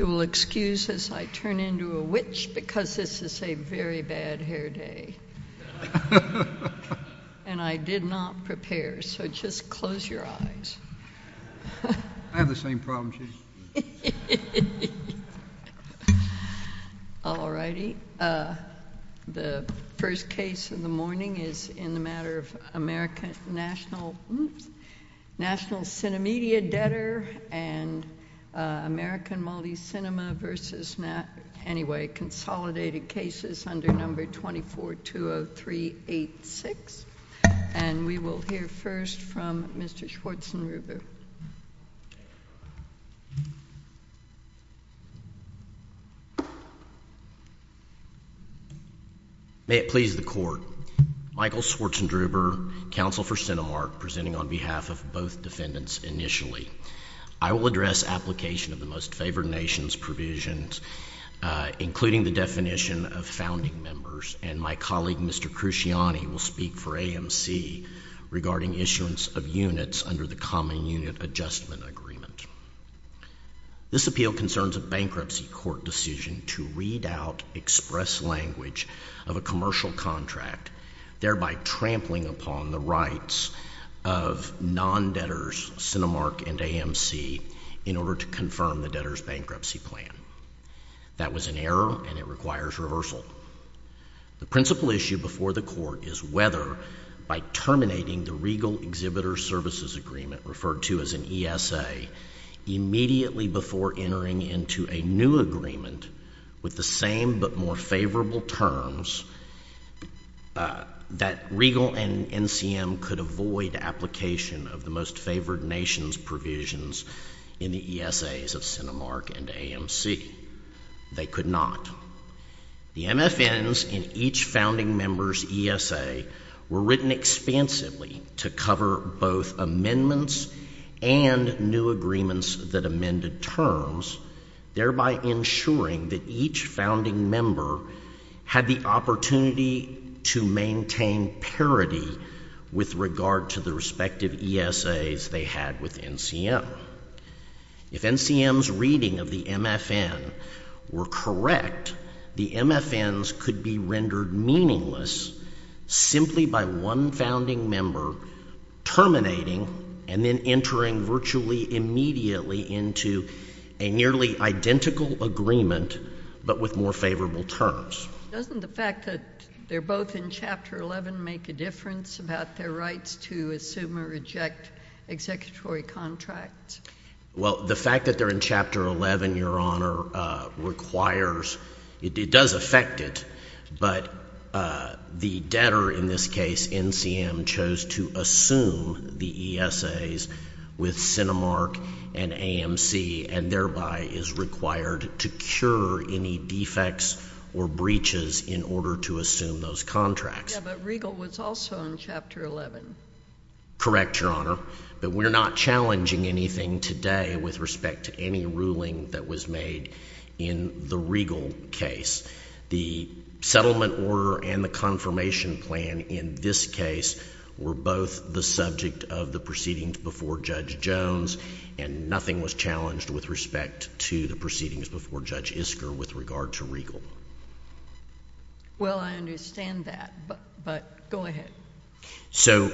You will excuse as I turn into a witch, because this is a very bad hair day. And I did not prepare, so just close your eyes. I have the same problem, too. Alrighty, the first case of the morning is in the matter of American National CineMedia Debtor and American Multi-Cinema v. Nat, anyway, Consolidated Cases under No. 24-20386. And we will hear first from Mr. Schwartzenreuber. May it please the Court, Michael Schwartzenreuber, counsel for Cinemark, presenting on behalf of both defendants initially. I will address application of the most favored nation's provisions, including the definition of founding members, and my colleague, Mr. Cruciani, will speak for AMC regarding issuance of units under the Common Unit Adjustment Agreement. This appeal concerns a bankruptcy court decision to read out express language of a commercial contract, thereby trampling upon the rights of non-debtors, Cinemark and AMC, in order to confirm the debtor's bankruptcy plan. That was an error, and it requires reversal. The principal issue before the Court is whether, by terminating the Regal Exhibitor Services Agreement, referred to as an ESA, immediately before entering into a new agreement with the same but more favorable terms, that Regal and NCM could avoid application of the most favored nation's provisions in the ESAs of Cinemark and AMC. They could not. The MFNs in each founding member's ESA were written expansively to cover both amendments and new agreements that amended terms, thereby ensuring that each founding member had the opportunity to maintain parity with regard to the respective ESAs they had with NCM. If NCM's reading of the MFN were correct, the MFNs could be rendered meaningless simply by one founding member terminating and then entering virtually immediately into a nearly identical agreement, but with more favorable terms. Doesn't the fact that they're both in Chapter 11 make a difference about their rights to assume or reject executory contracts? Well, the fact that they're in Chapter 11, Your Honor, requires — it does affect it, but the debtor in this case, NCM, chose to assume the ESAs with Cinemark and AMC and thereby is required to cure any defects or breaches in order to assume those contracts. Yeah, but Regal was also in Chapter 11. Correct, Your Honor, but we're not challenging anything today with respect to any ruling that was made in the Regal case. The settlement order and the confirmation plan in this case were both the subject of the proceedings before Judge Jones, and nothing was challenged with respect to the proceedings before Judge Isker with regard to Regal. Well, I understand that, but go ahead. So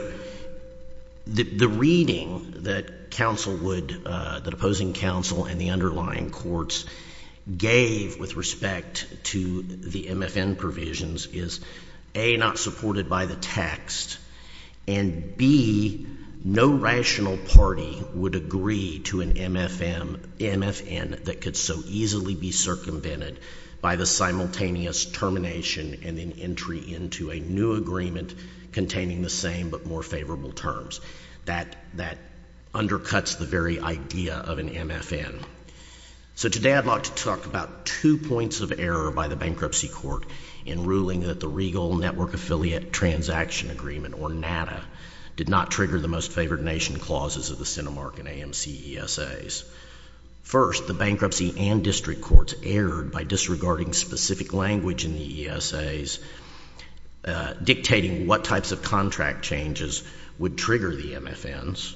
the reading that counsel would — that opposing counsel and the underlying courts gave with respect to the MFN provisions is, A, not supported by the text, and B, no rational party would agree to an MFN that could so easily be circumvented by the simultaneous termination and then entry into a new agreement containing the same but more favorable terms. That undercuts the very idea of an MFN. So today I'd like to talk about two points of error by the bankruptcy court in ruling that the Regal Network Affiliate Transaction Agreement, or NATA, did not trigger the most favored nation clauses of the Cinemark and AMC ESAs. First, the bankruptcy and district courts erred by disregarding specific language in the ESAs dictating what types of contract changes would trigger the MFNs,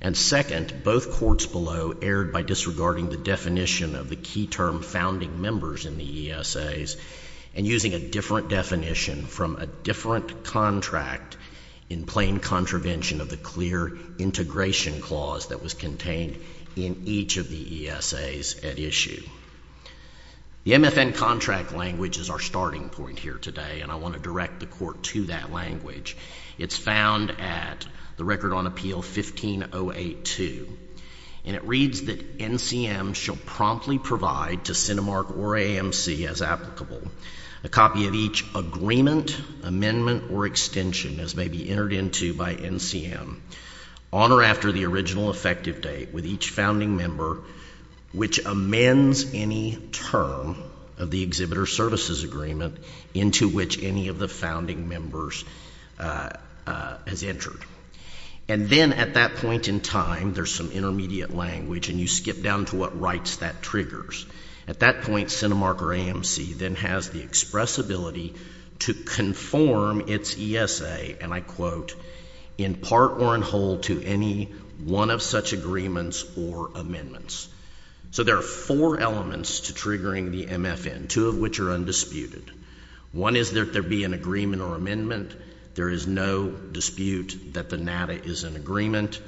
and second, both courts below erred by disregarding the definition of the key term founding members in the ESAs and using a different definition from a different contract in plain contravention of the clear integration clause that was contained in each of the ESAs at issue. The MFN contract language is our starting point here today, and I want to direct the court to that language. It's found at the Record on Appeal 15082, and it reads that NCM shall promptly provide to Cinemark or AMC as applicable a copy of each agreement, amendment, or extension as may be entered into by NCM on or after the original effective date with each founding member which amends any term of the Exhibitor Services Agreement into which any of the founding members has entered. And then at that point in time, there's some intermediate language, and you skip down to what rights that triggers. At that point, Cinemark or AMC then has the expressibility to conform its ESA, and I quote, in part or in whole to any one of such agreements or amendments. So there are four elements to triggering the MFN, two of which are undisputed. One is that there be an agreement or amendment. There is no dispute that the NADA is an agreement.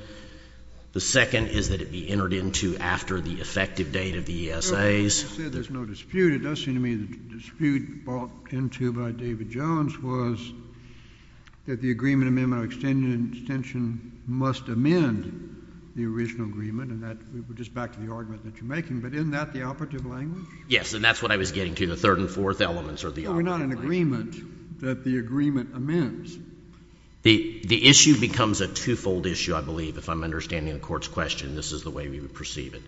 The second is that it be entered into after the effective date of the ESAs. No, when you said there's no dispute, it does seem to me that the dispute brought into by David Jones was that the agreement, amendment, or extension must amend the original agreement, and that, just back to the argument that you're making, but isn't that the operative language? I think we're not in agreement that the agreement amends. The issue becomes a two-fold issue, I believe, if I'm understanding the Court's question. This is the way we would perceive it.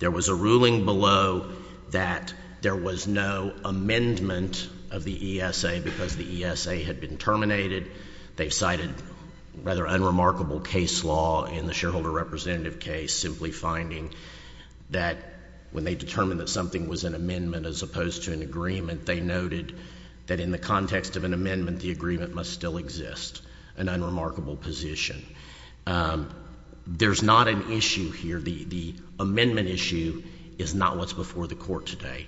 There was a ruling below that there was no amendment of the ESA because the ESA had been terminated. They've cited rather unremarkable case law in the shareholder representative case simply finding that when they determined that something was an amendment as opposed to an agreement, they noted that in the context of an amendment, the agreement must still exist, an unremarkable position. There's not an issue here. The amendment issue is not what's before the Court today.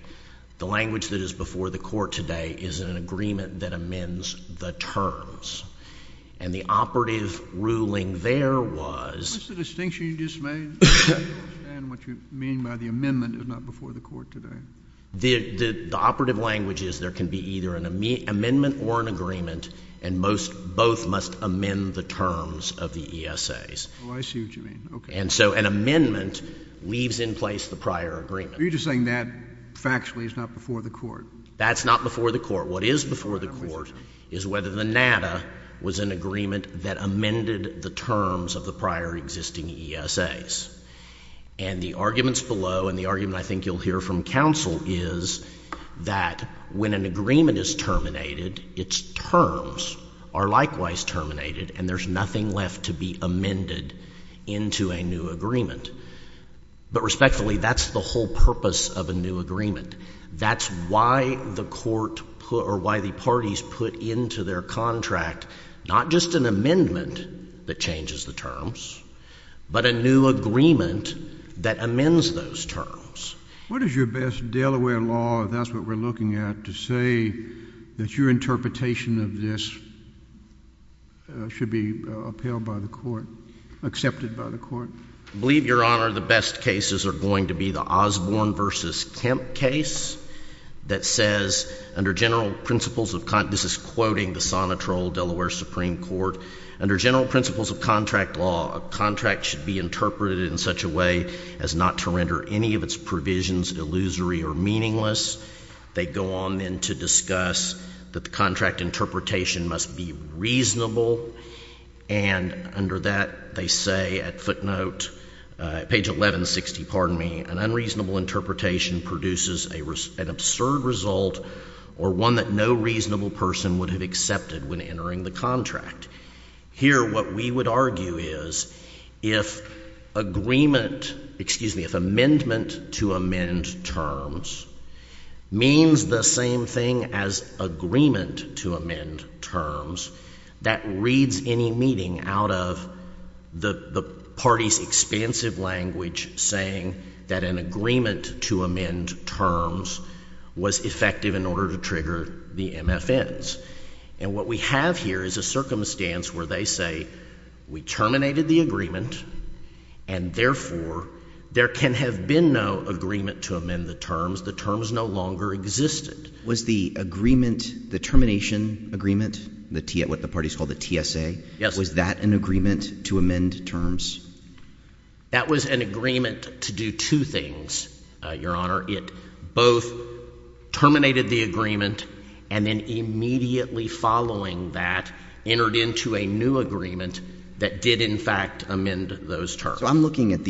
The language that is before the Court today is an agreement that amends the terms. And the operative ruling there was— What's the distinction you just made? I don't understand what you mean by the amendment is not before the Court today. The operative language is there can be either an amendment or an agreement, and both must amend the terms of the ESAs. Oh, I see what you mean. And so an amendment leaves in place the prior agreement. Are you just saying that factually is not before the Court? That's not before the Court. What is before the Court is whether the NADA was an agreement that amended the terms of the prior existing ESAs. And the arguments below and the argument I think you'll hear from counsel is that when an agreement is terminated, its terms are likewise terminated, and there's nothing left to be amended into a new agreement. But respectfully, that's the whole purpose of a new agreement. That's why the Court—or why the parties put into their contract not just an amendment that changes the terms, but a new agreement that amends those terms. What is your best Delaware law, if that's what we're looking at, to say that your interpretation of this should be upheld by the Court, accepted by the Court? I believe, Your Honor, the best cases are going to be the Osborne v. Kemp case that says, under general principles of—this is quoting the Sonitrol Delaware Supreme Court—under general principles of contract law, a contract should be interpreted in such a way as not to render any of its provisions illusory or meaningless. They go on then to discuss that the contract interpretation must be reasonable, and under that they say at footnote, page 1160, pardon me, an unreasonable interpretation produces an absurd result or one that no reasonable person would have accepted when entering the contract. Here, what we would argue is, if agreement—excuse me, if amendment to amend terms means the same thing as agreement to amend terms, that reads any meaning out of the parties' expansive language saying that an agreement to amend terms was effective in order to trigger the MFNs. And what we have here is a circumstance where they say, we terminated the agreement, and therefore, there can have been no agreement to amend the terms. The terms no longer existed. Was the agreement, the termination agreement, what the parties call the TSA, was that an agreement to amend terms? That was an agreement to do two things, Your Honor. It both terminated the agreement and then immediately following that, entered into a new agreement that did in fact amend those terms. So I'm looking at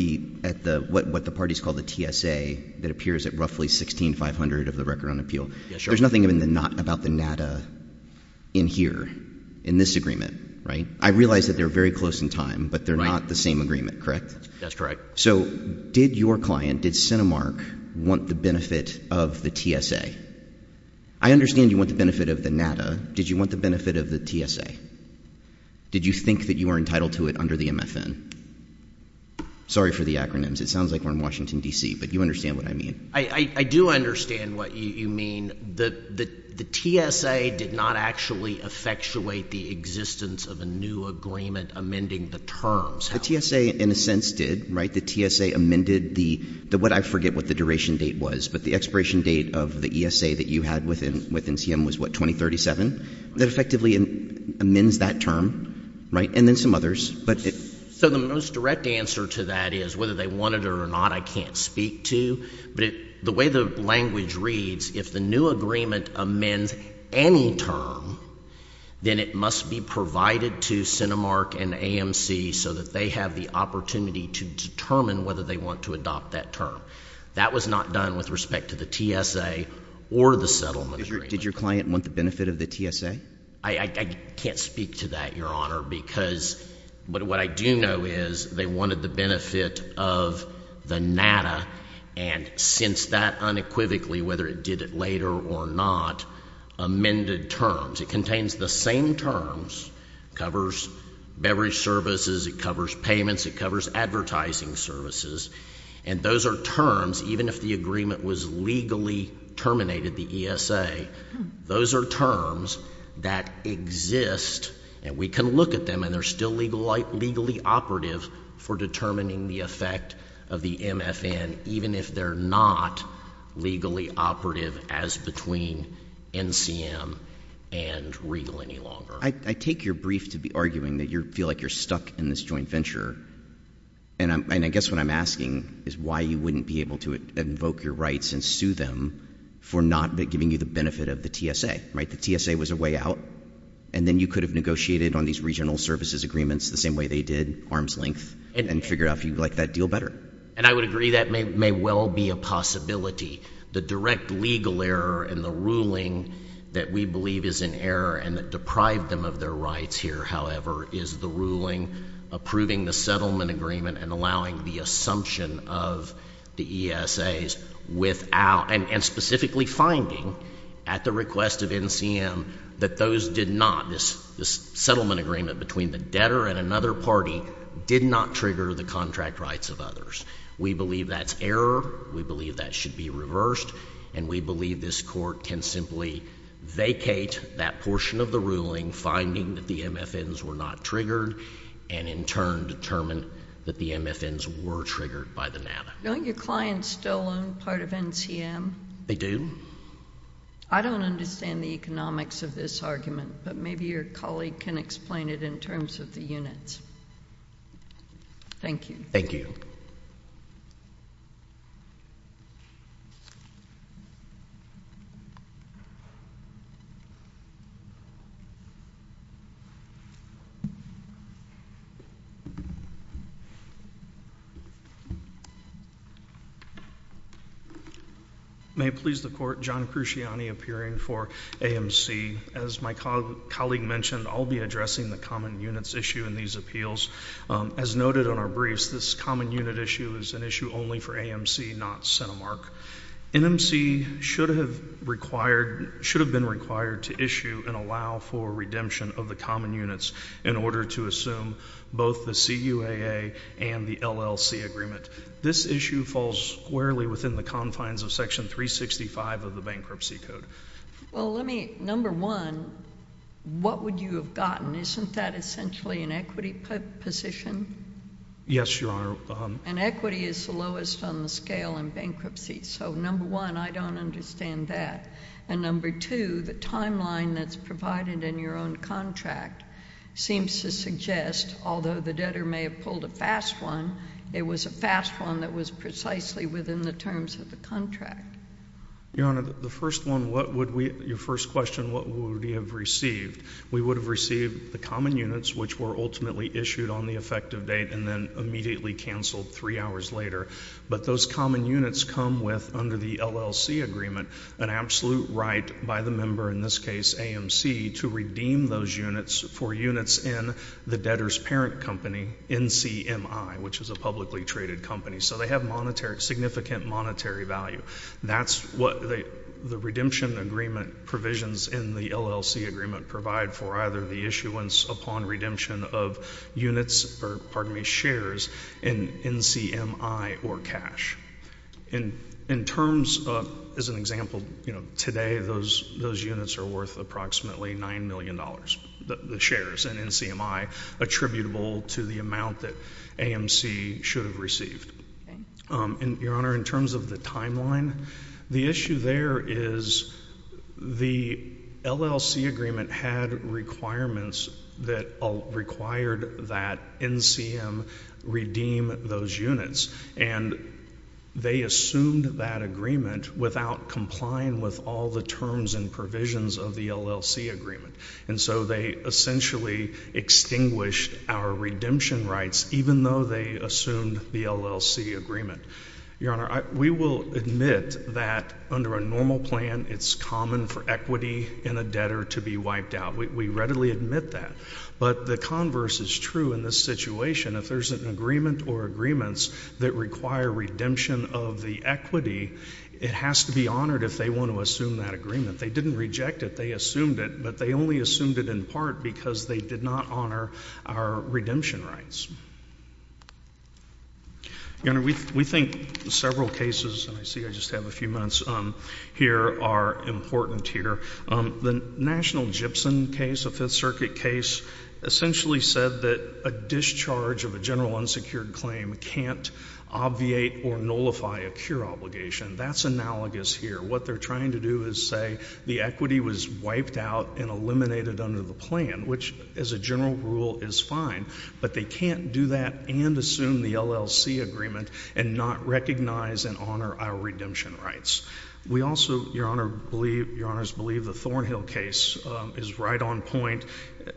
what the parties call the TSA that appears at roughly 16500 of the Record on Appeal. There's nothing in the not about the nada in here, in this agreement, right? I realize that they're very close in time, but they're not the same agreement, correct? That's correct. So did your client, did Cinemark, want the benefit of the TSA? I understand you want the benefit of the nada. Did you want the benefit of the TSA? Did you think that you were entitled to it under the MFN? Sorry for the acronyms. It sounds like we're in Washington, D.C., but you understand what I mean. I do understand what you mean. The TSA did not actually effectuate the existence of a new agreement amending the terms. The TSA, in a sense, did, right? The TSA amended the what I forget what the duration date was, but the expiration date of the ESA that you had within NCM was what, 2037? That effectively amends that term, right? And then some others, but it So the most direct answer to that is whether they wanted it or not, I can't speak to, but the way the language reads, if the new agreement amends any term, then it must be provided to Cinemark and AMC so that they have the opportunity to determine whether they want to adopt that term. That was not done with respect to the TSA or the settlement agreement. Did your client want the benefit of the TSA? I can't speak to that, Your Honor, because what I do know is they wanted the benefit of the nada, and since that unequivocally, whether it did it later or not, amended terms. It contains the same terms, covers beverage services, it covers payments, it covers advertising services, and those are terms, even if the agreement was legally terminated, the ESA, those are terms that exist, and we can look at them, and they're still legally operative for determining the effect of the MFN, even if they're not legally operative as between NCM and Regal any longer. I take your brief to be arguing that you feel like you're stuck in this joint venture, and I guess what I'm asking is why you wouldn't be able to invoke your rights and sue them for not giving you the benefit of the TSA, right? The TSA was a way out, and then you could have negotiated on these regional services agreements the same way they did, arm's length, and figured out if you liked that deal better. And I would agree that may well be a possibility. The direct legal error in the ruling that we believe is in error and that deprived them of their rights here, however, is the ruling approving the settlement agreement and allowing the assumption of the ESAs without, and specifically finding at the request of NCM that those did not, this settlement agreement between the owner and another party did not trigger the contract rights of others. We believe that's error. We believe that should be reversed, and we believe this Court can simply vacate that portion of the ruling, finding that the MFNs were not triggered, and in turn determine that the MFNs were triggered by the NADA. Don't your clients still own part of NCM? They do. I don't understand the economics of this argument, but maybe your colleague can explain it in terms of the units. Thank you. May it please the Court, John Cruciani appearing for AMC. As my colleague mentioned, I'll be addressing the common units issue in these appeals. As noted on our briefs, this common unit issue is an issue only for AMC, not CentiMark. NMC should have required, should have been required to issue and allow for redemption of the common units in order to assume both the CUAA and the LLC agreement. This issue falls squarely within the confines of Section 365 of the Bankruptcy Code. Well, let me, number one, what would you have gotten? Isn't that essentially an equity position? Yes, Your Honor. And equity is the lowest on the scale in bankruptcy. So, number one, I don't understand that. And number two, the timeline that's provided in your own contract seems to suggest, although the debtor may have pulled a fast one, it was a fast one that was precisely within the terms of the contract. Your Honor, the first one, what would we, your first question, what would we have received? We would have received the common units, which were ultimately issued on the effective date and then immediately canceled three hours later. But those common units come with, under the LLC agreement, an absolute right by the member, in this case AMC, to redeem those units for units in the debtor's parent company, NCMI, which is a publicly traded company. So they have monetary, significant monetary value. That's what the redemption agreement provisions in the LLC agreement provide for either the issuance upon redemption of units, or pardon me, shares in NCMI or cash. In terms of, as an example, you know, today those units are worth approximately $9 million, the shares in NCMI attributable to the amount that AMC should have received. And, Your Honor, in terms of the timeline, the issue there is the LLC agreement had requirements that required that NCM redeem those units. And they assumed that agreement without complying with all the terms and provisions of the LLC agreement. And so they essentially extinguished our redemption rights, even though they assumed the LLC agreement. Your Honor, we will admit that under a normal plan it's common for equity in a debtor to be wiped out. We readily admit that. But the converse is true in this situation. If there's an agreement or agreements that require redemption of the equity, it has to be honored if they want to assume that agreement. They didn't reject it. They assumed it. But they only assumed it in part because they did not honor our redemption rights. Your Honor, we think several cases, and I see I just have a few minutes here, are important here. The National Gibson case, a Fifth Circuit case, essentially said that a discharge of a general unsecured claim can't obviate or nullify a cure obligation. That's analogous here. What they're trying to do is say the equity was wiped out and eliminated under the plan, which as a general rule is fine. But they can't do that and assume the LLC agreement and not recognize and honor our redemption rights. We also, Your Honor, believe, Your Honors believe the Thornhill case is right on point.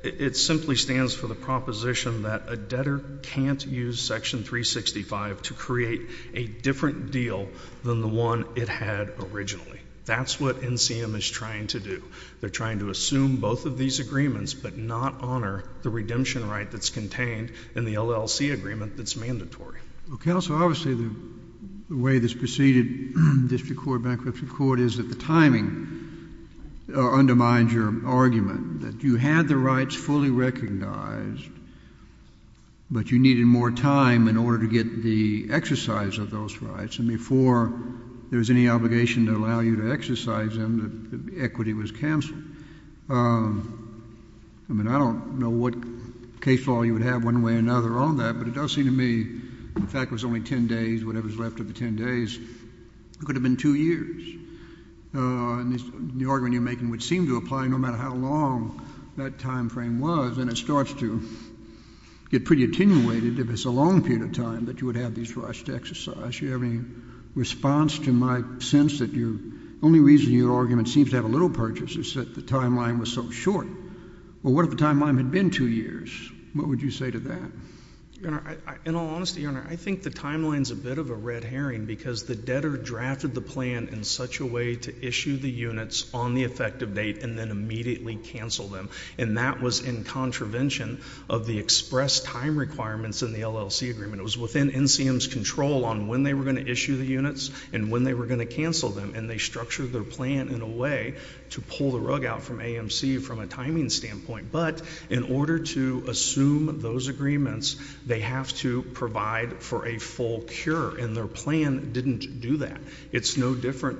It simply stands for the proposition that a debtor can't use Section 365 to create a different deal than the one it had originally. That's what NCM is trying to do. They're trying to assume both of these agreements, but not honor the redemption right that's contained in the LLC agreement that's mandatory. Well, Counsel, obviously the way this preceded district court, bankruptcy court, is that timing undermines your argument, that you had the rights fully recognized, but you needed more time in order to get the exercise of those rights. And before there was any obligation to allow you to exercise them, the equity was canceled. I mean, I don't know what case law you would have one way or another on that, but it does seem to me, in fact, it was only ten days, whatever's left of the ten days. It could have been two years. And the argument you're making would seem to apply no matter how long that time frame was, and it starts to get pretty attenuated if it's a long period of time that you would have these rights to exercise. Do you have any response to my sense that your only reason your argument seems to have a little purchase is that the timeline was so short? Well, what if the timeline had been two years? What would you say to that? Your Honor, in all honesty, Your Honor, I think the timeline's a bit of a red herring because the debtor drafted the plan in such a way to issue the units on the effective date and then immediately cancel them, and that was in contravention of the express time requirements in the LLC agreement. It was within NCM's control on when they were going to issue the units and when they were going to cancel them, and they structured their plan in a way to pull the rug out from AMC from a timing standpoint. But in order to assume those agreements, they have to provide for a full cure, and their plan didn't do that. It's no different.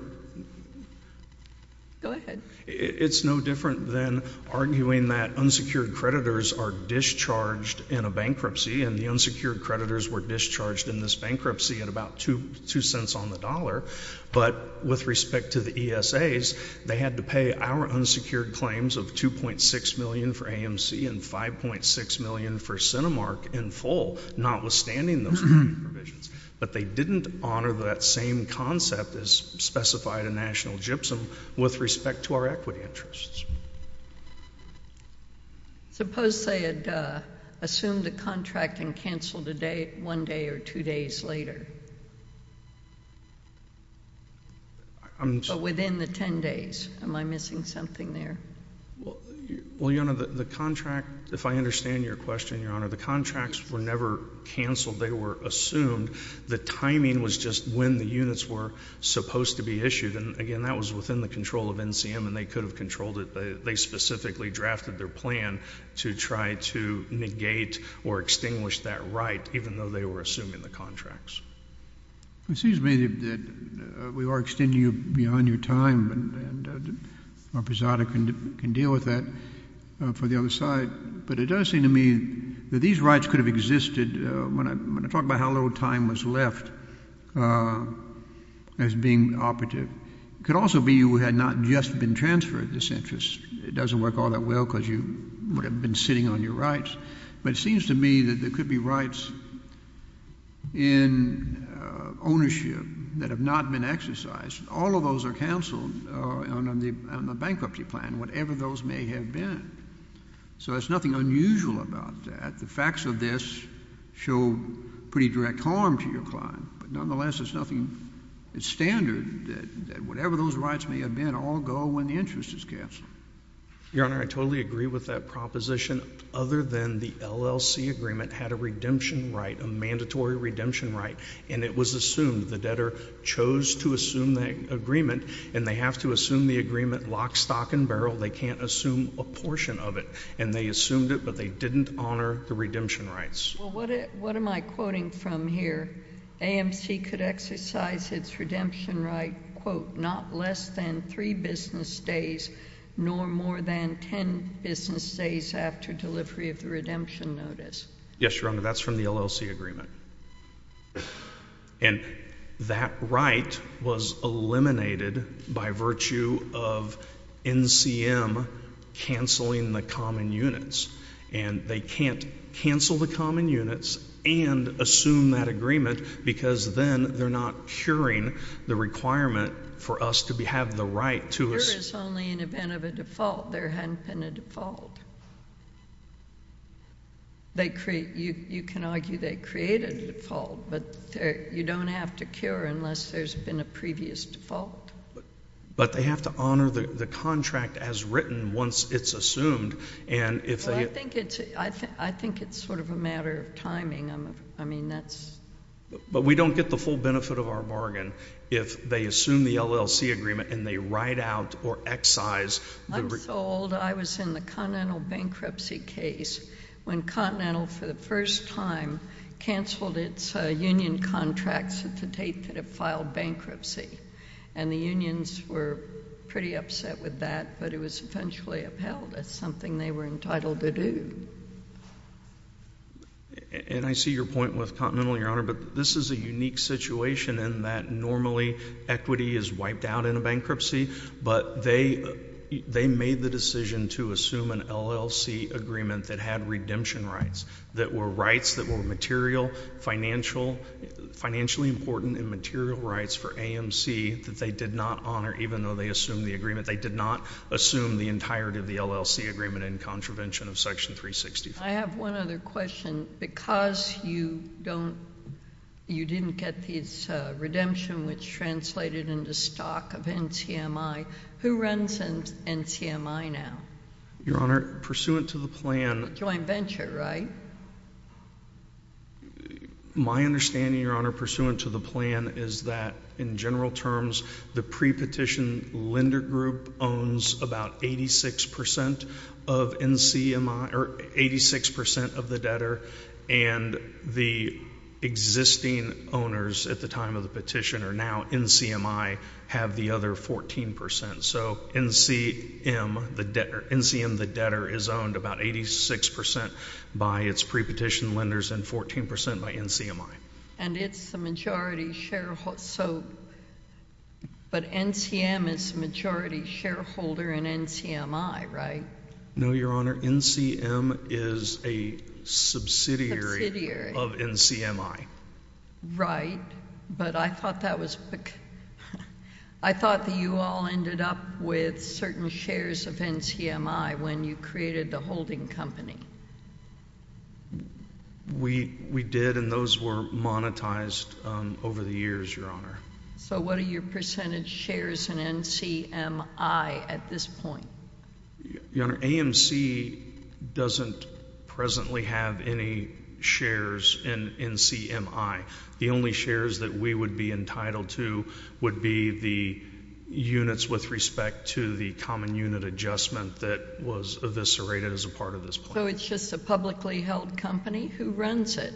Go ahead. It's no different than arguing that unsecured creditors are discharged in a bankruptcy, and the unsecured creditors were discharged in this bankruptcy at about two cents on the dollar, but with respect to the ESAs, they had to pay our unsecured claims of $2.6 million for AMC and $5.6 million for Cinemark in full, notwithstanding those provisions. But they didn't honor that same concept as specified in National GYPSUM with respect to our equity interests. Suppose they had assumed a contract and canceled one day or two days later, but within the ten days. Am I missing something there? Well, Your Honor, the contract, if I understand your question, Your Honor, the contracts were never canceled. They were assumed. The timing was just when the units were supposed to be issued, and again, that was within the control of NCM, and they could have controlled it. They specifically drafted their plan to try to negate or extinguish that right, even though they were assuming the contracts. It seems to me that we are extending you beyond your time, and our president can deal with that for the other side, but it does seem to me that these rights could have existed when I talk about how little time was left as being operative. It could also be you had not just been transferred this interest. It doesn't work all that well because you would have been sitting on your rights, but it seems to me that there could be rights in ownership that have not been exercised. All of those are canceled on the bankruptcy plan, whatever those may have been. So there's nothing unusual about that. The facts of this show pretty direct harm to your client, but nonetheless, there's nothing that's standard, that whatever those rights may have been, all go when the interest is canceled. Your Honor, I totally agree with that proposition. Other than the LLC agreement had a redemption right, a mandatory redemption right, and it was assumed the debtor chose to assume that agreement, and they have to assume the agreement lock, stock, and barrel. They can't assume a portion of it, and they assumed it, but they didn't honor the redemption rights. Well, what am I quoting from here? AMC could exercise its redemption right, quote, not less than three business days, nor more than ten business days after delivery of the redemption notice. Yes, Your Honor, that's from the LLC agreement. And that right was eliminated by virtue of NCM canceling the common units. And they can't cancel the common units and assume that agreement, because then they're not curing the requirement for us to have the right to... Cure is only an event of a default. There hadn't been a default. They create... you can argue they create a default, but you don't have to cure unless there's been a previous default. But they have to honor the contract as written once it's assumed, and if they... Well, I think it's sort of a matter of timing. I mean, that's... But we don't get the full benefit of our bargain if they assume the LLC agreement and they write out or excise... I'm so old, I was in the Continental bankruptcy case when Continental, for the first time, canceled its union contracts at the date that it filed bankruptcy. And the unions were pretty upset with that, but it was eventually upheld as something they were entitled to do. And I see your point with Continental, Your Honor, but this is a unique situation in that normally equity is wiped out in a bankruptcy, but they made the decision to assume an LLC agreement that had redemption rights that were rights that were material, financially important and material rights for AMC that they did not honor, even though they assumed the agreement. They did not assume the entirety of the LLC agreement in contravention of Section 365. I have one other question. Because you don't... you didn't get this redemption, which translated into stock of NCMI. Who runs NCMI now? Your Honor, pursuant to the plan... Joint venture, right? My understanding, Your Honor, pursuant to the plan, is that in general terms, the pre-petition lender group owns about 86 percent of NCMI, or 86 percent of the debtor, and the existing owners at the time of the petition are now NCMI, have the other 14 percent. So NCM, the debtor, is owned about 86 percent by its pre-petition lenders and 14 percent by NCMI. And it's the majority shareholder. So, but NCM is the majority shareholder in NCMI, right? No, Your Honor. NCM is a subsidiary...... of NCMI. Right. But I thought that was... I thought that you all ended up with certain shares of NCMI when you created the holding company. We did, and those were monetized over the years, Your Honor. So what are your percentage shares in NCMI at this point? Your Honor, AMC doesn't presently have any shares in NCMI. The only shares that we would be entitled to would be the units with respect to the common unit adjustment that was eviscerated as a part of this plan. So it's just a publicly held company? Who runs it?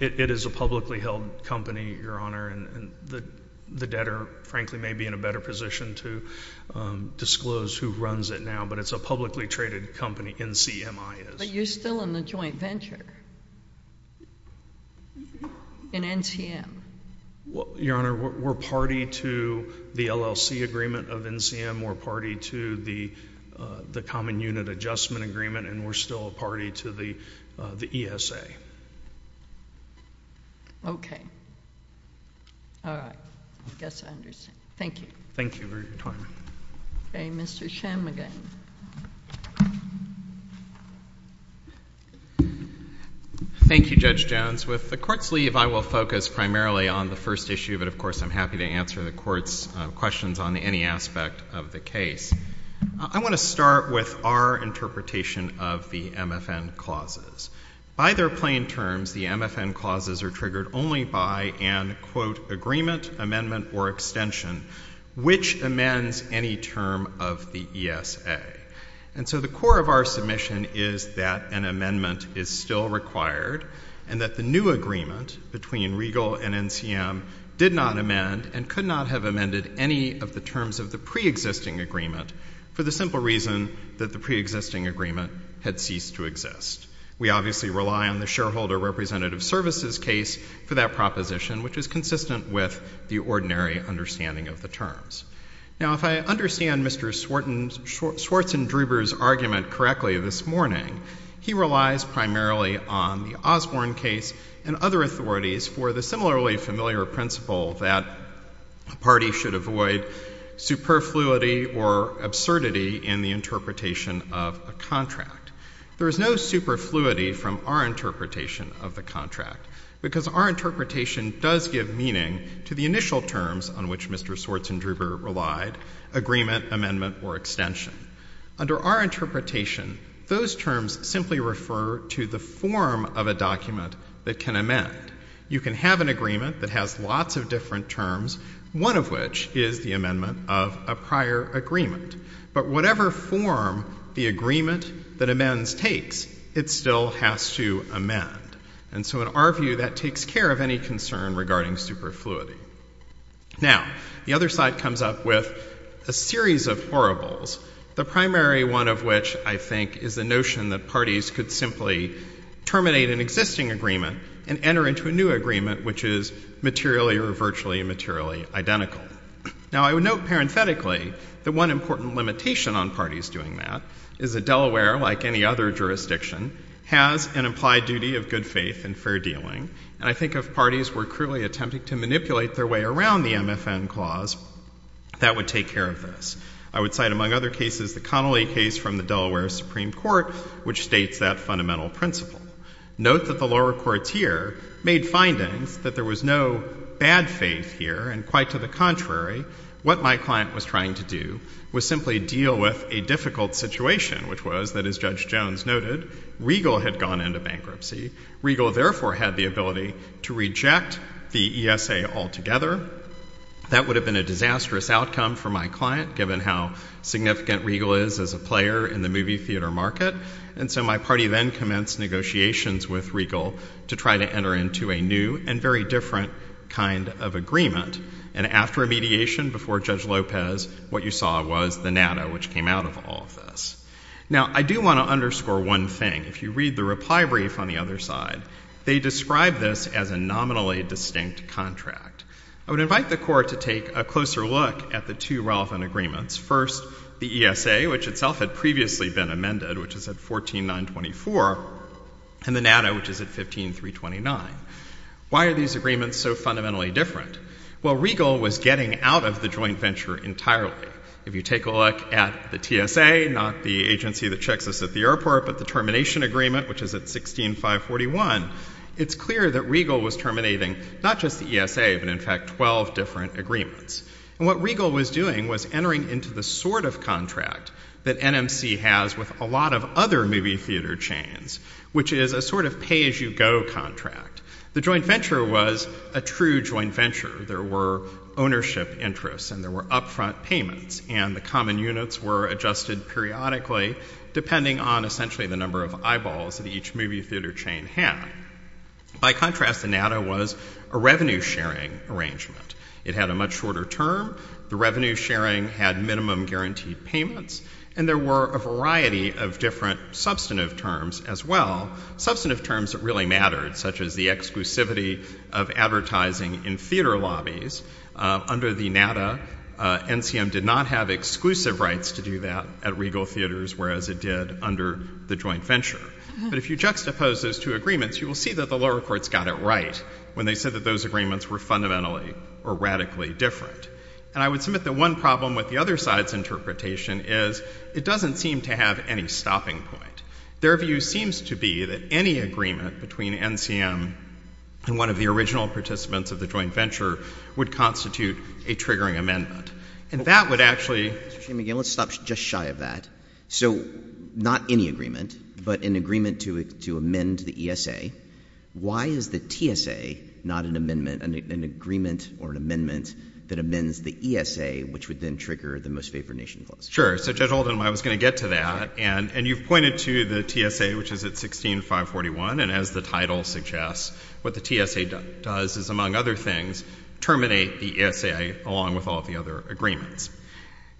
It is a publicly held company, Your Honor, and the debtor, frankly, may be in a better position to disclose who runs it now, but it's a publicly traded company, NCMI is. But you're still in the joint venture in NCM? Well, Your Honor, we're party to the LLC agreement of NCM. We're party to the common unit adjustment agreement, and we're still a party to the ESA. Okay. All right. I guess I understand. Thank you. Thank you for your time. Okay. Mr. Shem again. Thank you, Judge Jones. With the Court's leave, I will focus primarily on the first issue, but of course I'm happy to answer the Court's questions on any aspect of the case. I want to start with our interpretation of the MFN clauses. By their plain terms, the MFN clauses are triggered only by an, quote, agreement, amendment, or extension, which amends any term of the ESA. And so the core of our submission is that an amendment is still required and that the new agreement between Regal and NCM did not amend and could not have amended any of the terms of the preexisting agreement for the simple reason that the preexisting agreement had ceased to exist. We obviously rely on the shareholder representative services case for that proposition, which is consistent with the ordinary understanding of the terms. Now, if I understand Mr. Swartzendruber's argument correctly this morning, he relies primarily on the Osborne case and other authorities for the similarly familiar principle that a party should avoid superfluity or absurdity in the interpretation of a contract. There is no superfluity from our interpretation of the contract, because our interpretation does give meaning to the initial terms on which Mr. Swartzendruber relied, agreement, amendment, or extension. Under our interpretation, those terms simply refer to the form of a contract, one of which is the amendment of a prior agreement. But whatever form the agreement that amends takes, it still has to amend. And so in our view, that takes care of any concern regarding superfluity. Now, the other side comes up with a series of horribles, the primary one of which I think is the notion that parties could simply terminate an existing agreement and enter into a new agreement, which is materially or virtually materially identical. Now, I would note parenthetically that one important limitation on parties doing that is that Delaware, like any other jurisdiction, has an implied duty of good faith and fair dealing. And I think if parties were cruelly attempting to manipulate their way around the MFN clause, that would take care of this. I would cite among other cases the Connolly case from the Delaware Supreme Court, which states that fundamental principle. Note that the lower court here made findings that there was no bad faith here, and quite to the contrary, what my client was trying to do was simply deal with a difficult situation, which was that, as Judge Jones noted, Regal had gone into bankruptcy. Regal therefore had the ability to reject the ESA altogether. That would have been a disastrous outcome for my client, given how significant Regal is as a player in the movie theater market. And so my party then commenced negotiations with Regal to try to enter into a new and very different kind of agreement. And after a mediation before Judge Lopez, what you saw was the NADA, which came out of all of this. Now, I do want to underscore one thing. If you read the reply brief on the other side, they describe this as a nominally distinct contract. I would invite the Court to take a closer look at the two relevant agreements. First, the ESA, which itself had previously been amended, which is at 14924, and the NADA, which is at 15329. Why are these agreements so fundamentally different? Well, Regal was getting out of the joint venture entirely. If you take a look at the TSA, not the agency that checks us at the airport, but the termination agreement, which is at 16541, it's clear that Regal was terminating not just the ESA, but in fact 12 different agreements. And what Regal was doing was entering into the sort of contract that NMC has with a lot of other movie theater chains, which is a sort of pay-as-you-go contract. The joint venture was a true joint venture. There were ownership interests, and there were upfront payments, and the common units were adjusted periodically, depending on essentially the number of eyeballs that each movie theater chain had. By contrast, the NADA was a revenue-sharing arrangement. It had a much shorter term. The revenue-sharing had minimum guaranteed payments, and there were a variety of different substantive terms as well, substantive terms that really mattered, such as the exclusivity of advertising in theater lobbies. Under the NADA, NCM did not have exclusive rights to do that at Regal Theaters, whereas it did under the joint venture. But if you juxtapose those two agreements, you will see that the lower courts got it right when they said that those agreements were fundamentally or radically different. And I would submit that one problem with the other side's interpretation is it doesn't seem to have any stopping point. Their view seems to be that any agreement between NCM and one of the original participants of the joint venture would constitute a triggering amendment. And that would actually— Mr. Chaim, again, let's stop just shy of that. So not any agreement, but an agreement to amend the ESA. Why is the TSA not an amendment, an agreement or an amendment that amends the ESA, which would then trigger the Most Favored Nation Clause? Sure. So, Judge Holden, I was going to get to that. And you've pointed to the TSA, which is at 16, 541. And as the title suggests, what the TSA does is, among other things, terminate the ESA along with all of the other agreements.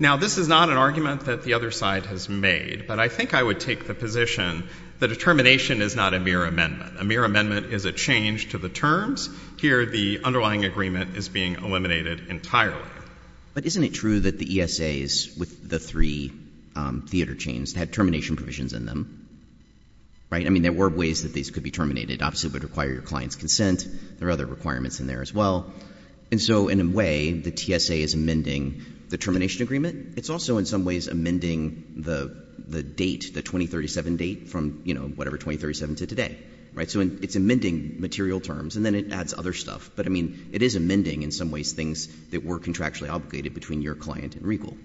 Now, this is not an argument that the other side has made, but I think I would take the position that a termination is not a mere amendment. A mere amendment is a change to the terms. Here, the underlying agreement is being eliminated entirely. But isn't it true that the ESAs with the three theater chains had termination provisions in them? Right? I mean, there were ways that these could be terminated. Obviously, it would require your client's consent. There are other requirements in there as well. And so, in a way, the TSA is amending the termination agreement. It's also, in some ways, amending the date, the 2037 date, from, you know, whatever, 2037 to today. Right? So, it's amending material terms. And then it adds other stuff. But, I mean, it is amending, in some ways, things that were contractually obligated between your client and Regal.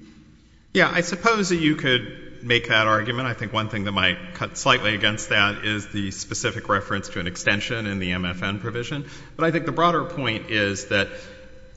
Yeah. I suppose that you could make that argument. I think one thing that might cut slightly against that is the specific reference to an extension in the MFN provision. But I think the broader point is that,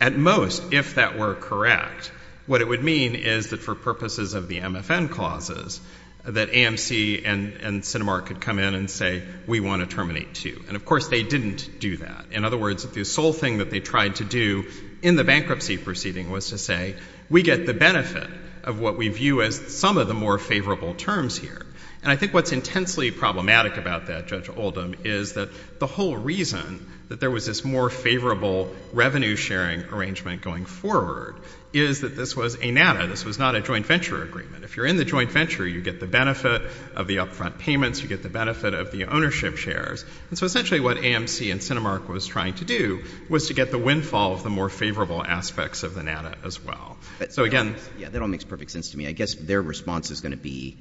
at most, if that were correct, what it would mean is that for purposes of the MFN clauses, that AMC and Cinemark could come in and say, we want to terminate two. And, of course, they didn't do that. In other words, the sole thing that they tried to do in the bankruptcy proceeding was to say, we get the benefit of what we view as some of the more favorable terms here. And I think what's intensely problematic about that, Judge Oldham, is that the whole reason that there was this more favorable revenue sharing arrangement going forward is that this was a NADA. This was not a joint venture agreement. If you're in the joint venture, you get the benefit of the upfront payments. You get the benefit of the ownership shares. And so, essentially, what AMC and Cinemark was trying to do was to get the windfall of the more favorable aspects of the NADA as well. So, again — Yeah. That all makes perfect sense to me. I guess their response is going to be,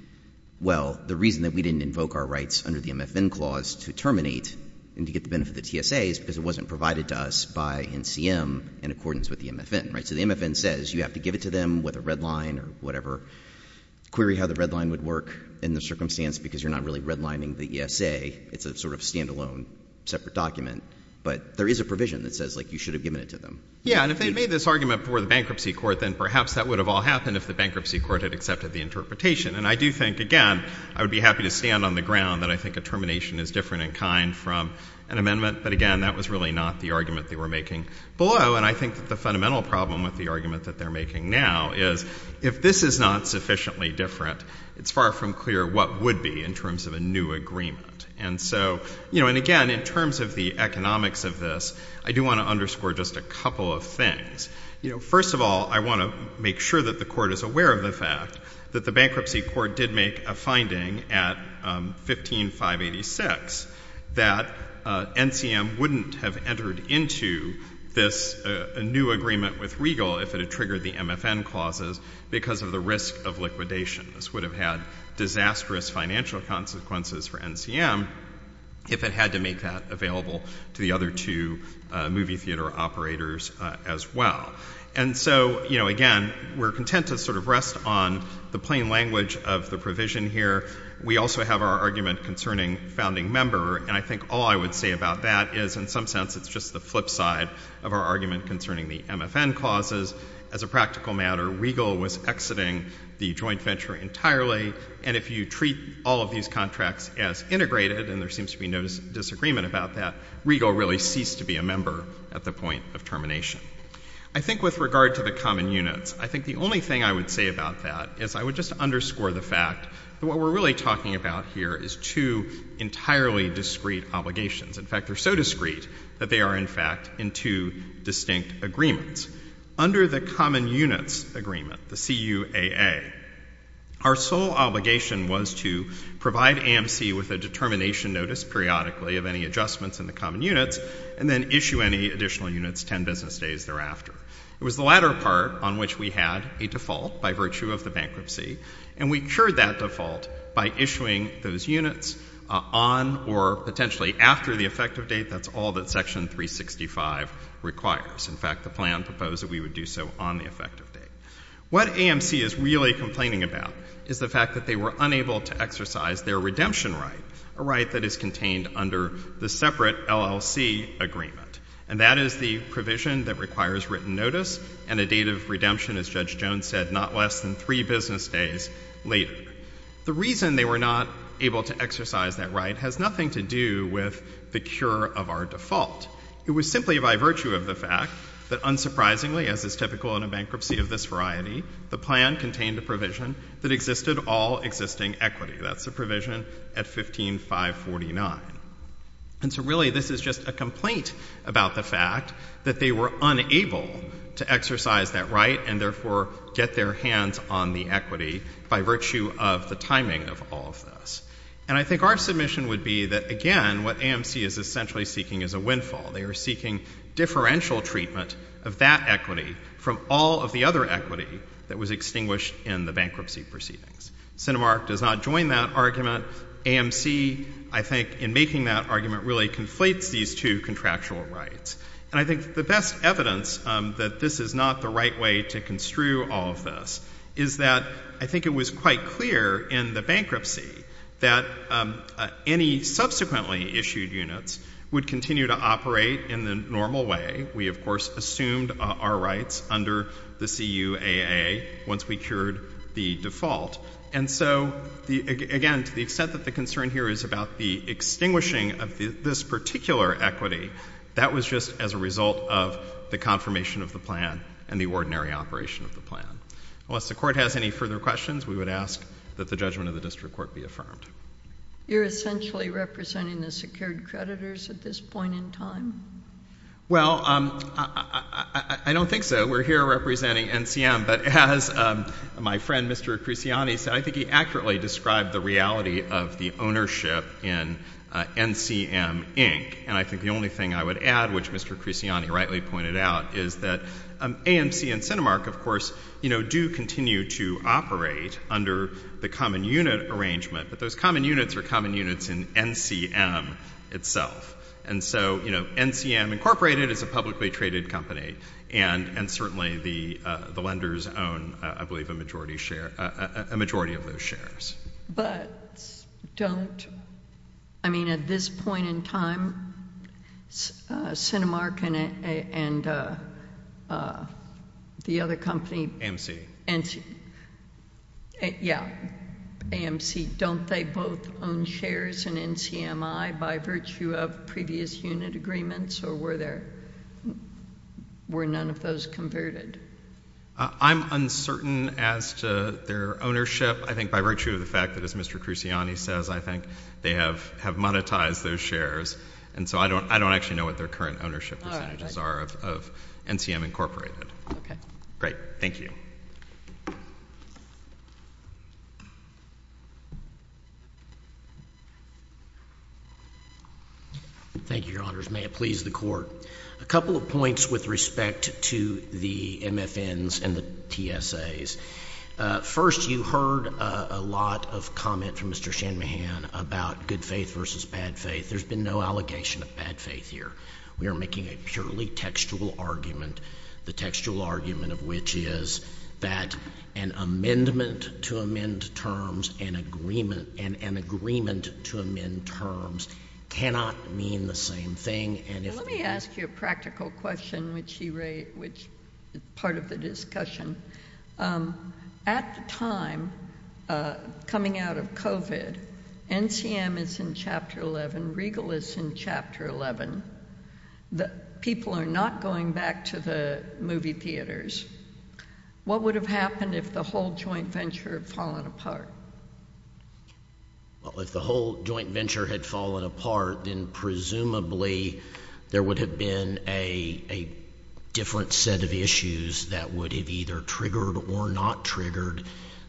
well, the reason that we didn't invoke our rights under the MFN clause to terminate and to get the benefit of the TSA is because it wasn't provided to us by NCM in accordance with the MFN, right? So the MFN says you have to give it to them with a red line or whatever. Query how the red line would work in the circumstance because you're not really redlining the ESA. It's a sort of stand-alone separate document. But there is a provision that says, like, you should have given it to them. Yeah. And if they made this argument before the bankruptcy court, then perhaps that would have all happened if the bankruptcy court had accepted the interpretation. And I do think, again, I would be happy to stand on the ground that I think a termination is different in kind from an amendment. But, again, that was really not the argument they were making below. And I think that the fundamental problem with the argument that they're making now is if this is not sufficiently different, it's far from clear what would be in terms of a new agreement. And so, you know, and again, in terms of the economics of this, I do want to underscore just a couple of things. You know, first of all, I want to make sure that the court is aware of the fact that the bankruptcy court did make a finding at 15586 that NCM wouldn't have entered into this new agreement with Regal if it had triggered the MFN clauses because of the risk of liquidation. This would have had disastrous financial consequences for NCM if it had to make that available to the other two movie theater operators as well. And so, you know, again, we're content to sort of rest on the plain language of the division here. We also have our argument concerning founding member, and I think all I would say about that is in some sense it's just the flip side of our argument concerning the MFN clauses. As a practical matter, Regal was exiting the joint venture entirely, and if you treat all of these contracts as integrated, and there seems to be no disagreement about that, Regal really ceased to be a member at the point of termination. I think with regard to the common units, I think the only thing I would say about that is I would just underscore the fact that what we're really talking about here is two entirely discrete obligations. In fact, they're so discrete that they are, in fact, in two distinct agreements. Under the common units agreement, the CUAA, our sole obligation was to provide AMC with a determination notice periodically of any adjustments in the common units and then issue any additional units 10 business days thereafter. It was the latter part on which we had a default by virtue of the bankruptcy, and we cured that default by issuing those units on or potentially after the effective date. That's all that Section 365 requires. In fact, the plan proposed that we would do so on the effective date. What AMC is really complaining about is the fact that they were unable to exercise their redemption right, a right that is contained under the separate LLC agreement, and that is the provision that requires written notice and a date of redemption, as Judge Jones said, not less than three business days later. The reason they were not able to exercise that right has nothing to do with the cure of our default. It was simply by virtue of the fact that unsurprisingly, as is typical in a bankruptcy of this variety, the plan contained a provision that existed all existing equity. That's the provision at 15549. And so really this is just a complaint about the fact that they were unable to exercise that right and therefore get their hands on the equity by virtue of the timing of all of this. And I think our submission would be that, again, what AMC is essentially seeking is a windfall. They are seeking differential treatment of that equity from all of the other equity that was extinguished in the bankruptcy proceedings. Cinemark does not join that argument. AMC, I think, in making that argument really conflates these two contractual rights. And I think the best evidence that this is not the right way to construe all of this is that I think it was quite clear in the bankruptcy that any subsequently issued units would continue to operate in the normal way. We, of course, assumed our rights under the CUAA once we secured the default. And so, again, to the extent that the concern here is about the extinguishing of this particular equity, that was just as a result of the confirmation of the plan and the ordinary operation of the plan. Unless the Court has any further questions, we would ask that the judgment of the District Court be affirmed. You're essentially representing the secured creditors at this point in time? Well, I don't think so. We're here representing NCM. But as my friend, Mr. Cresciani, said, I think he accurately described the reality of the ownership in NCM, Inc. And I think the only thing I would add, which Mr. Cresciani rightly pointed out, is that AMC and Cinemark, of course, you know, do continue to operate under the common unit arrangement. But those common units are common units in NCM itself. And so, you know, NCM, Inc. is a publicly traded company. And certainly the lenders own, I believe, a majority of those shares. But don't, I mean, at this point in time, Cinemark and the other company, AMC, don't they both own shares in NCM, I, by virtue of previous unit agreements? Or were there, were none of those converted? I'm uncertain as to their ownership. I think by virtue of the fact that, as Mr. Cresciani says, I think they have monetized those shares. And so I don't actually know what their current ownership percentages are of NCM, Incorporated. Okay. Great. Thank you. Thank you, Your Honors. May it please the Court. A couple of points with respect to the MFNs and the TSAs. First, you heard a lot of comment from Mr. Shanmugam about good faith versus bad faith. There's been no allegation of bad faith here. We are making a purely textual argument, the textual argument of which is that an amendment to amend terms and agreement, and an agreement to amend terms cannot mean the same thing. And if... Let me ask you a practical question, which he raised, which is part of the discussion. At the time, coming out of COVID, NCM is in Chapter 11, Regal is in Chapter 11. The people are not going back to the movie theaters. What would have happened if the whole joint venture had fallen apart? Well, if the whole joint venture had fallen apart, then presumably there would have been a different set of issues that would have either triggered or not triggered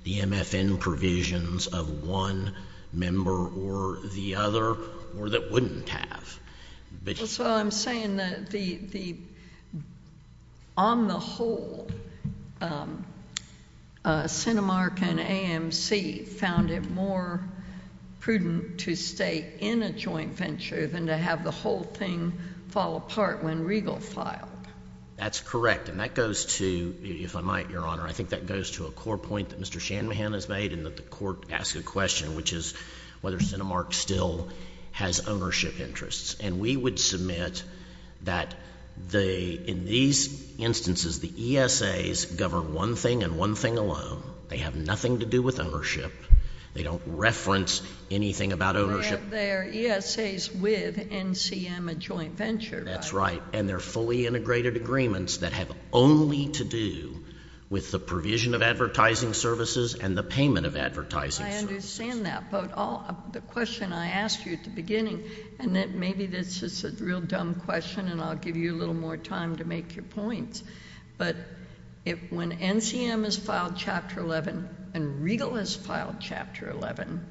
the MFN provisions of one member or the other, or that wouldn't have. So I'm saying that on the whole, CentiMark and AMC found it more prudent to stay in a joint venture than to have the whole thing fall apart when Regal filed. That's correct. And that goes to, if I might, Your Honor, I think that goes to a core point that Mr. Shanmugam has made and that the Court asked a question, which is whether CentiMark still has ownership interests. And we would submit that in these instances, the ESAs govern one thing and one thing alone. They have nothing to do with ownership. They don't reference anything about ownership. They're ESAs with NCM, a joint venture. That's right. And they're fully integrated agreements that have only to do with the provision of advertising services and the payment of advertising services. I understand that. But the question I asked you at the beginning, and maybe this is a real dumb question and I'll give you a little more time to make your points, but when NCM has filed Chapter 11 and Regal has filed Chapter 11,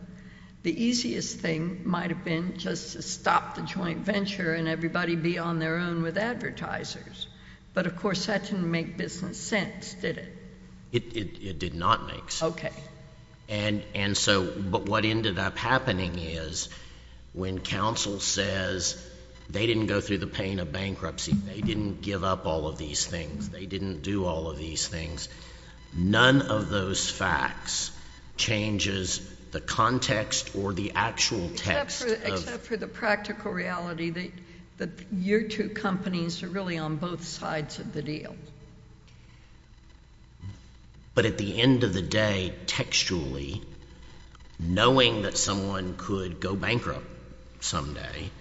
the easiest thing might have been just to stop the joint venture and everybody be on their own with advertisers. But of course that didn't make business sense, did it? It did not make sense. Okay. And so but what ended up happening is when counsel says they didn't go through the pain of bankruptcy, they didn't give up all of these things, they didn't do all of these things, none of those facts changes the context or the actual text of Except for the practical reality that your two companies are really on both sides of the deal. But at the end of the day, textually, knowing that someone could go bankrupt someday,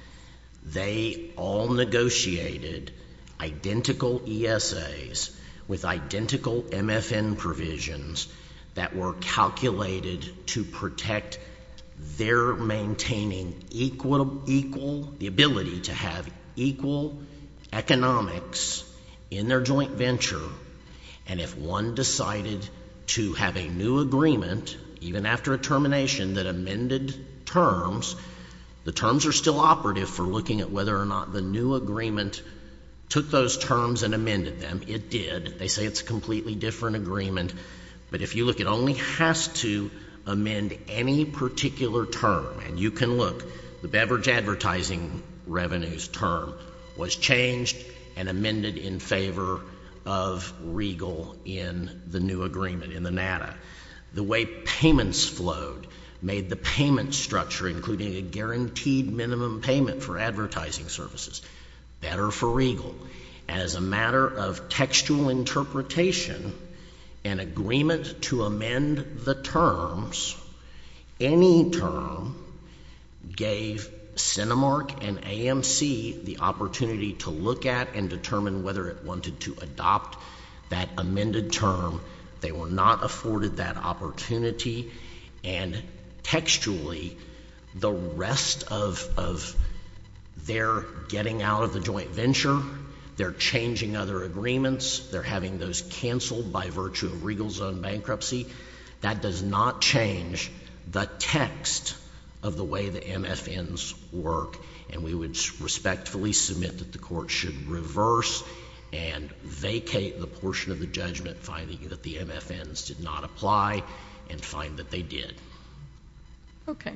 they all negotiated identical ESAs with identical MFN provisions that were calculated to protect their maintaining equal, the ability to have equal economics in their joint venture. And if one decided to have a new agreement, even after a termination, that amended terms, the terms are still operative for looking at whether or not the new agreement took those terms and amended them. It did. They say it's a completely different agreement. But if you look, it only has to amend any particular term. And you can look. The beverage of Regal in the new agreement, in the NADA, the way payments flowed made the payment structure, including a guaranteed minimum payment for advertising services, better for Regal. As a matter of textual interpretation, an agreement to amend the terms, any term gave Cinemark and AMC the opportunity to look at and determine whether it wanted to adopt that amended term. They were not afforded that opportunity. And textually, the rest of their getting out of the joint venture, their changing other agreements, their having those canceled by virtue of Regal's own bankruptcy, that does not change the text of the way the MFNs work. And we would respectfully submit that the Court should reverse and vacate the portion of the judgment finding that the MFNs did not apply and find that they did. Okay.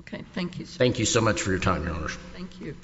Okay. Thank you so much. Thank you so much for your time, Your Honors. Thank you.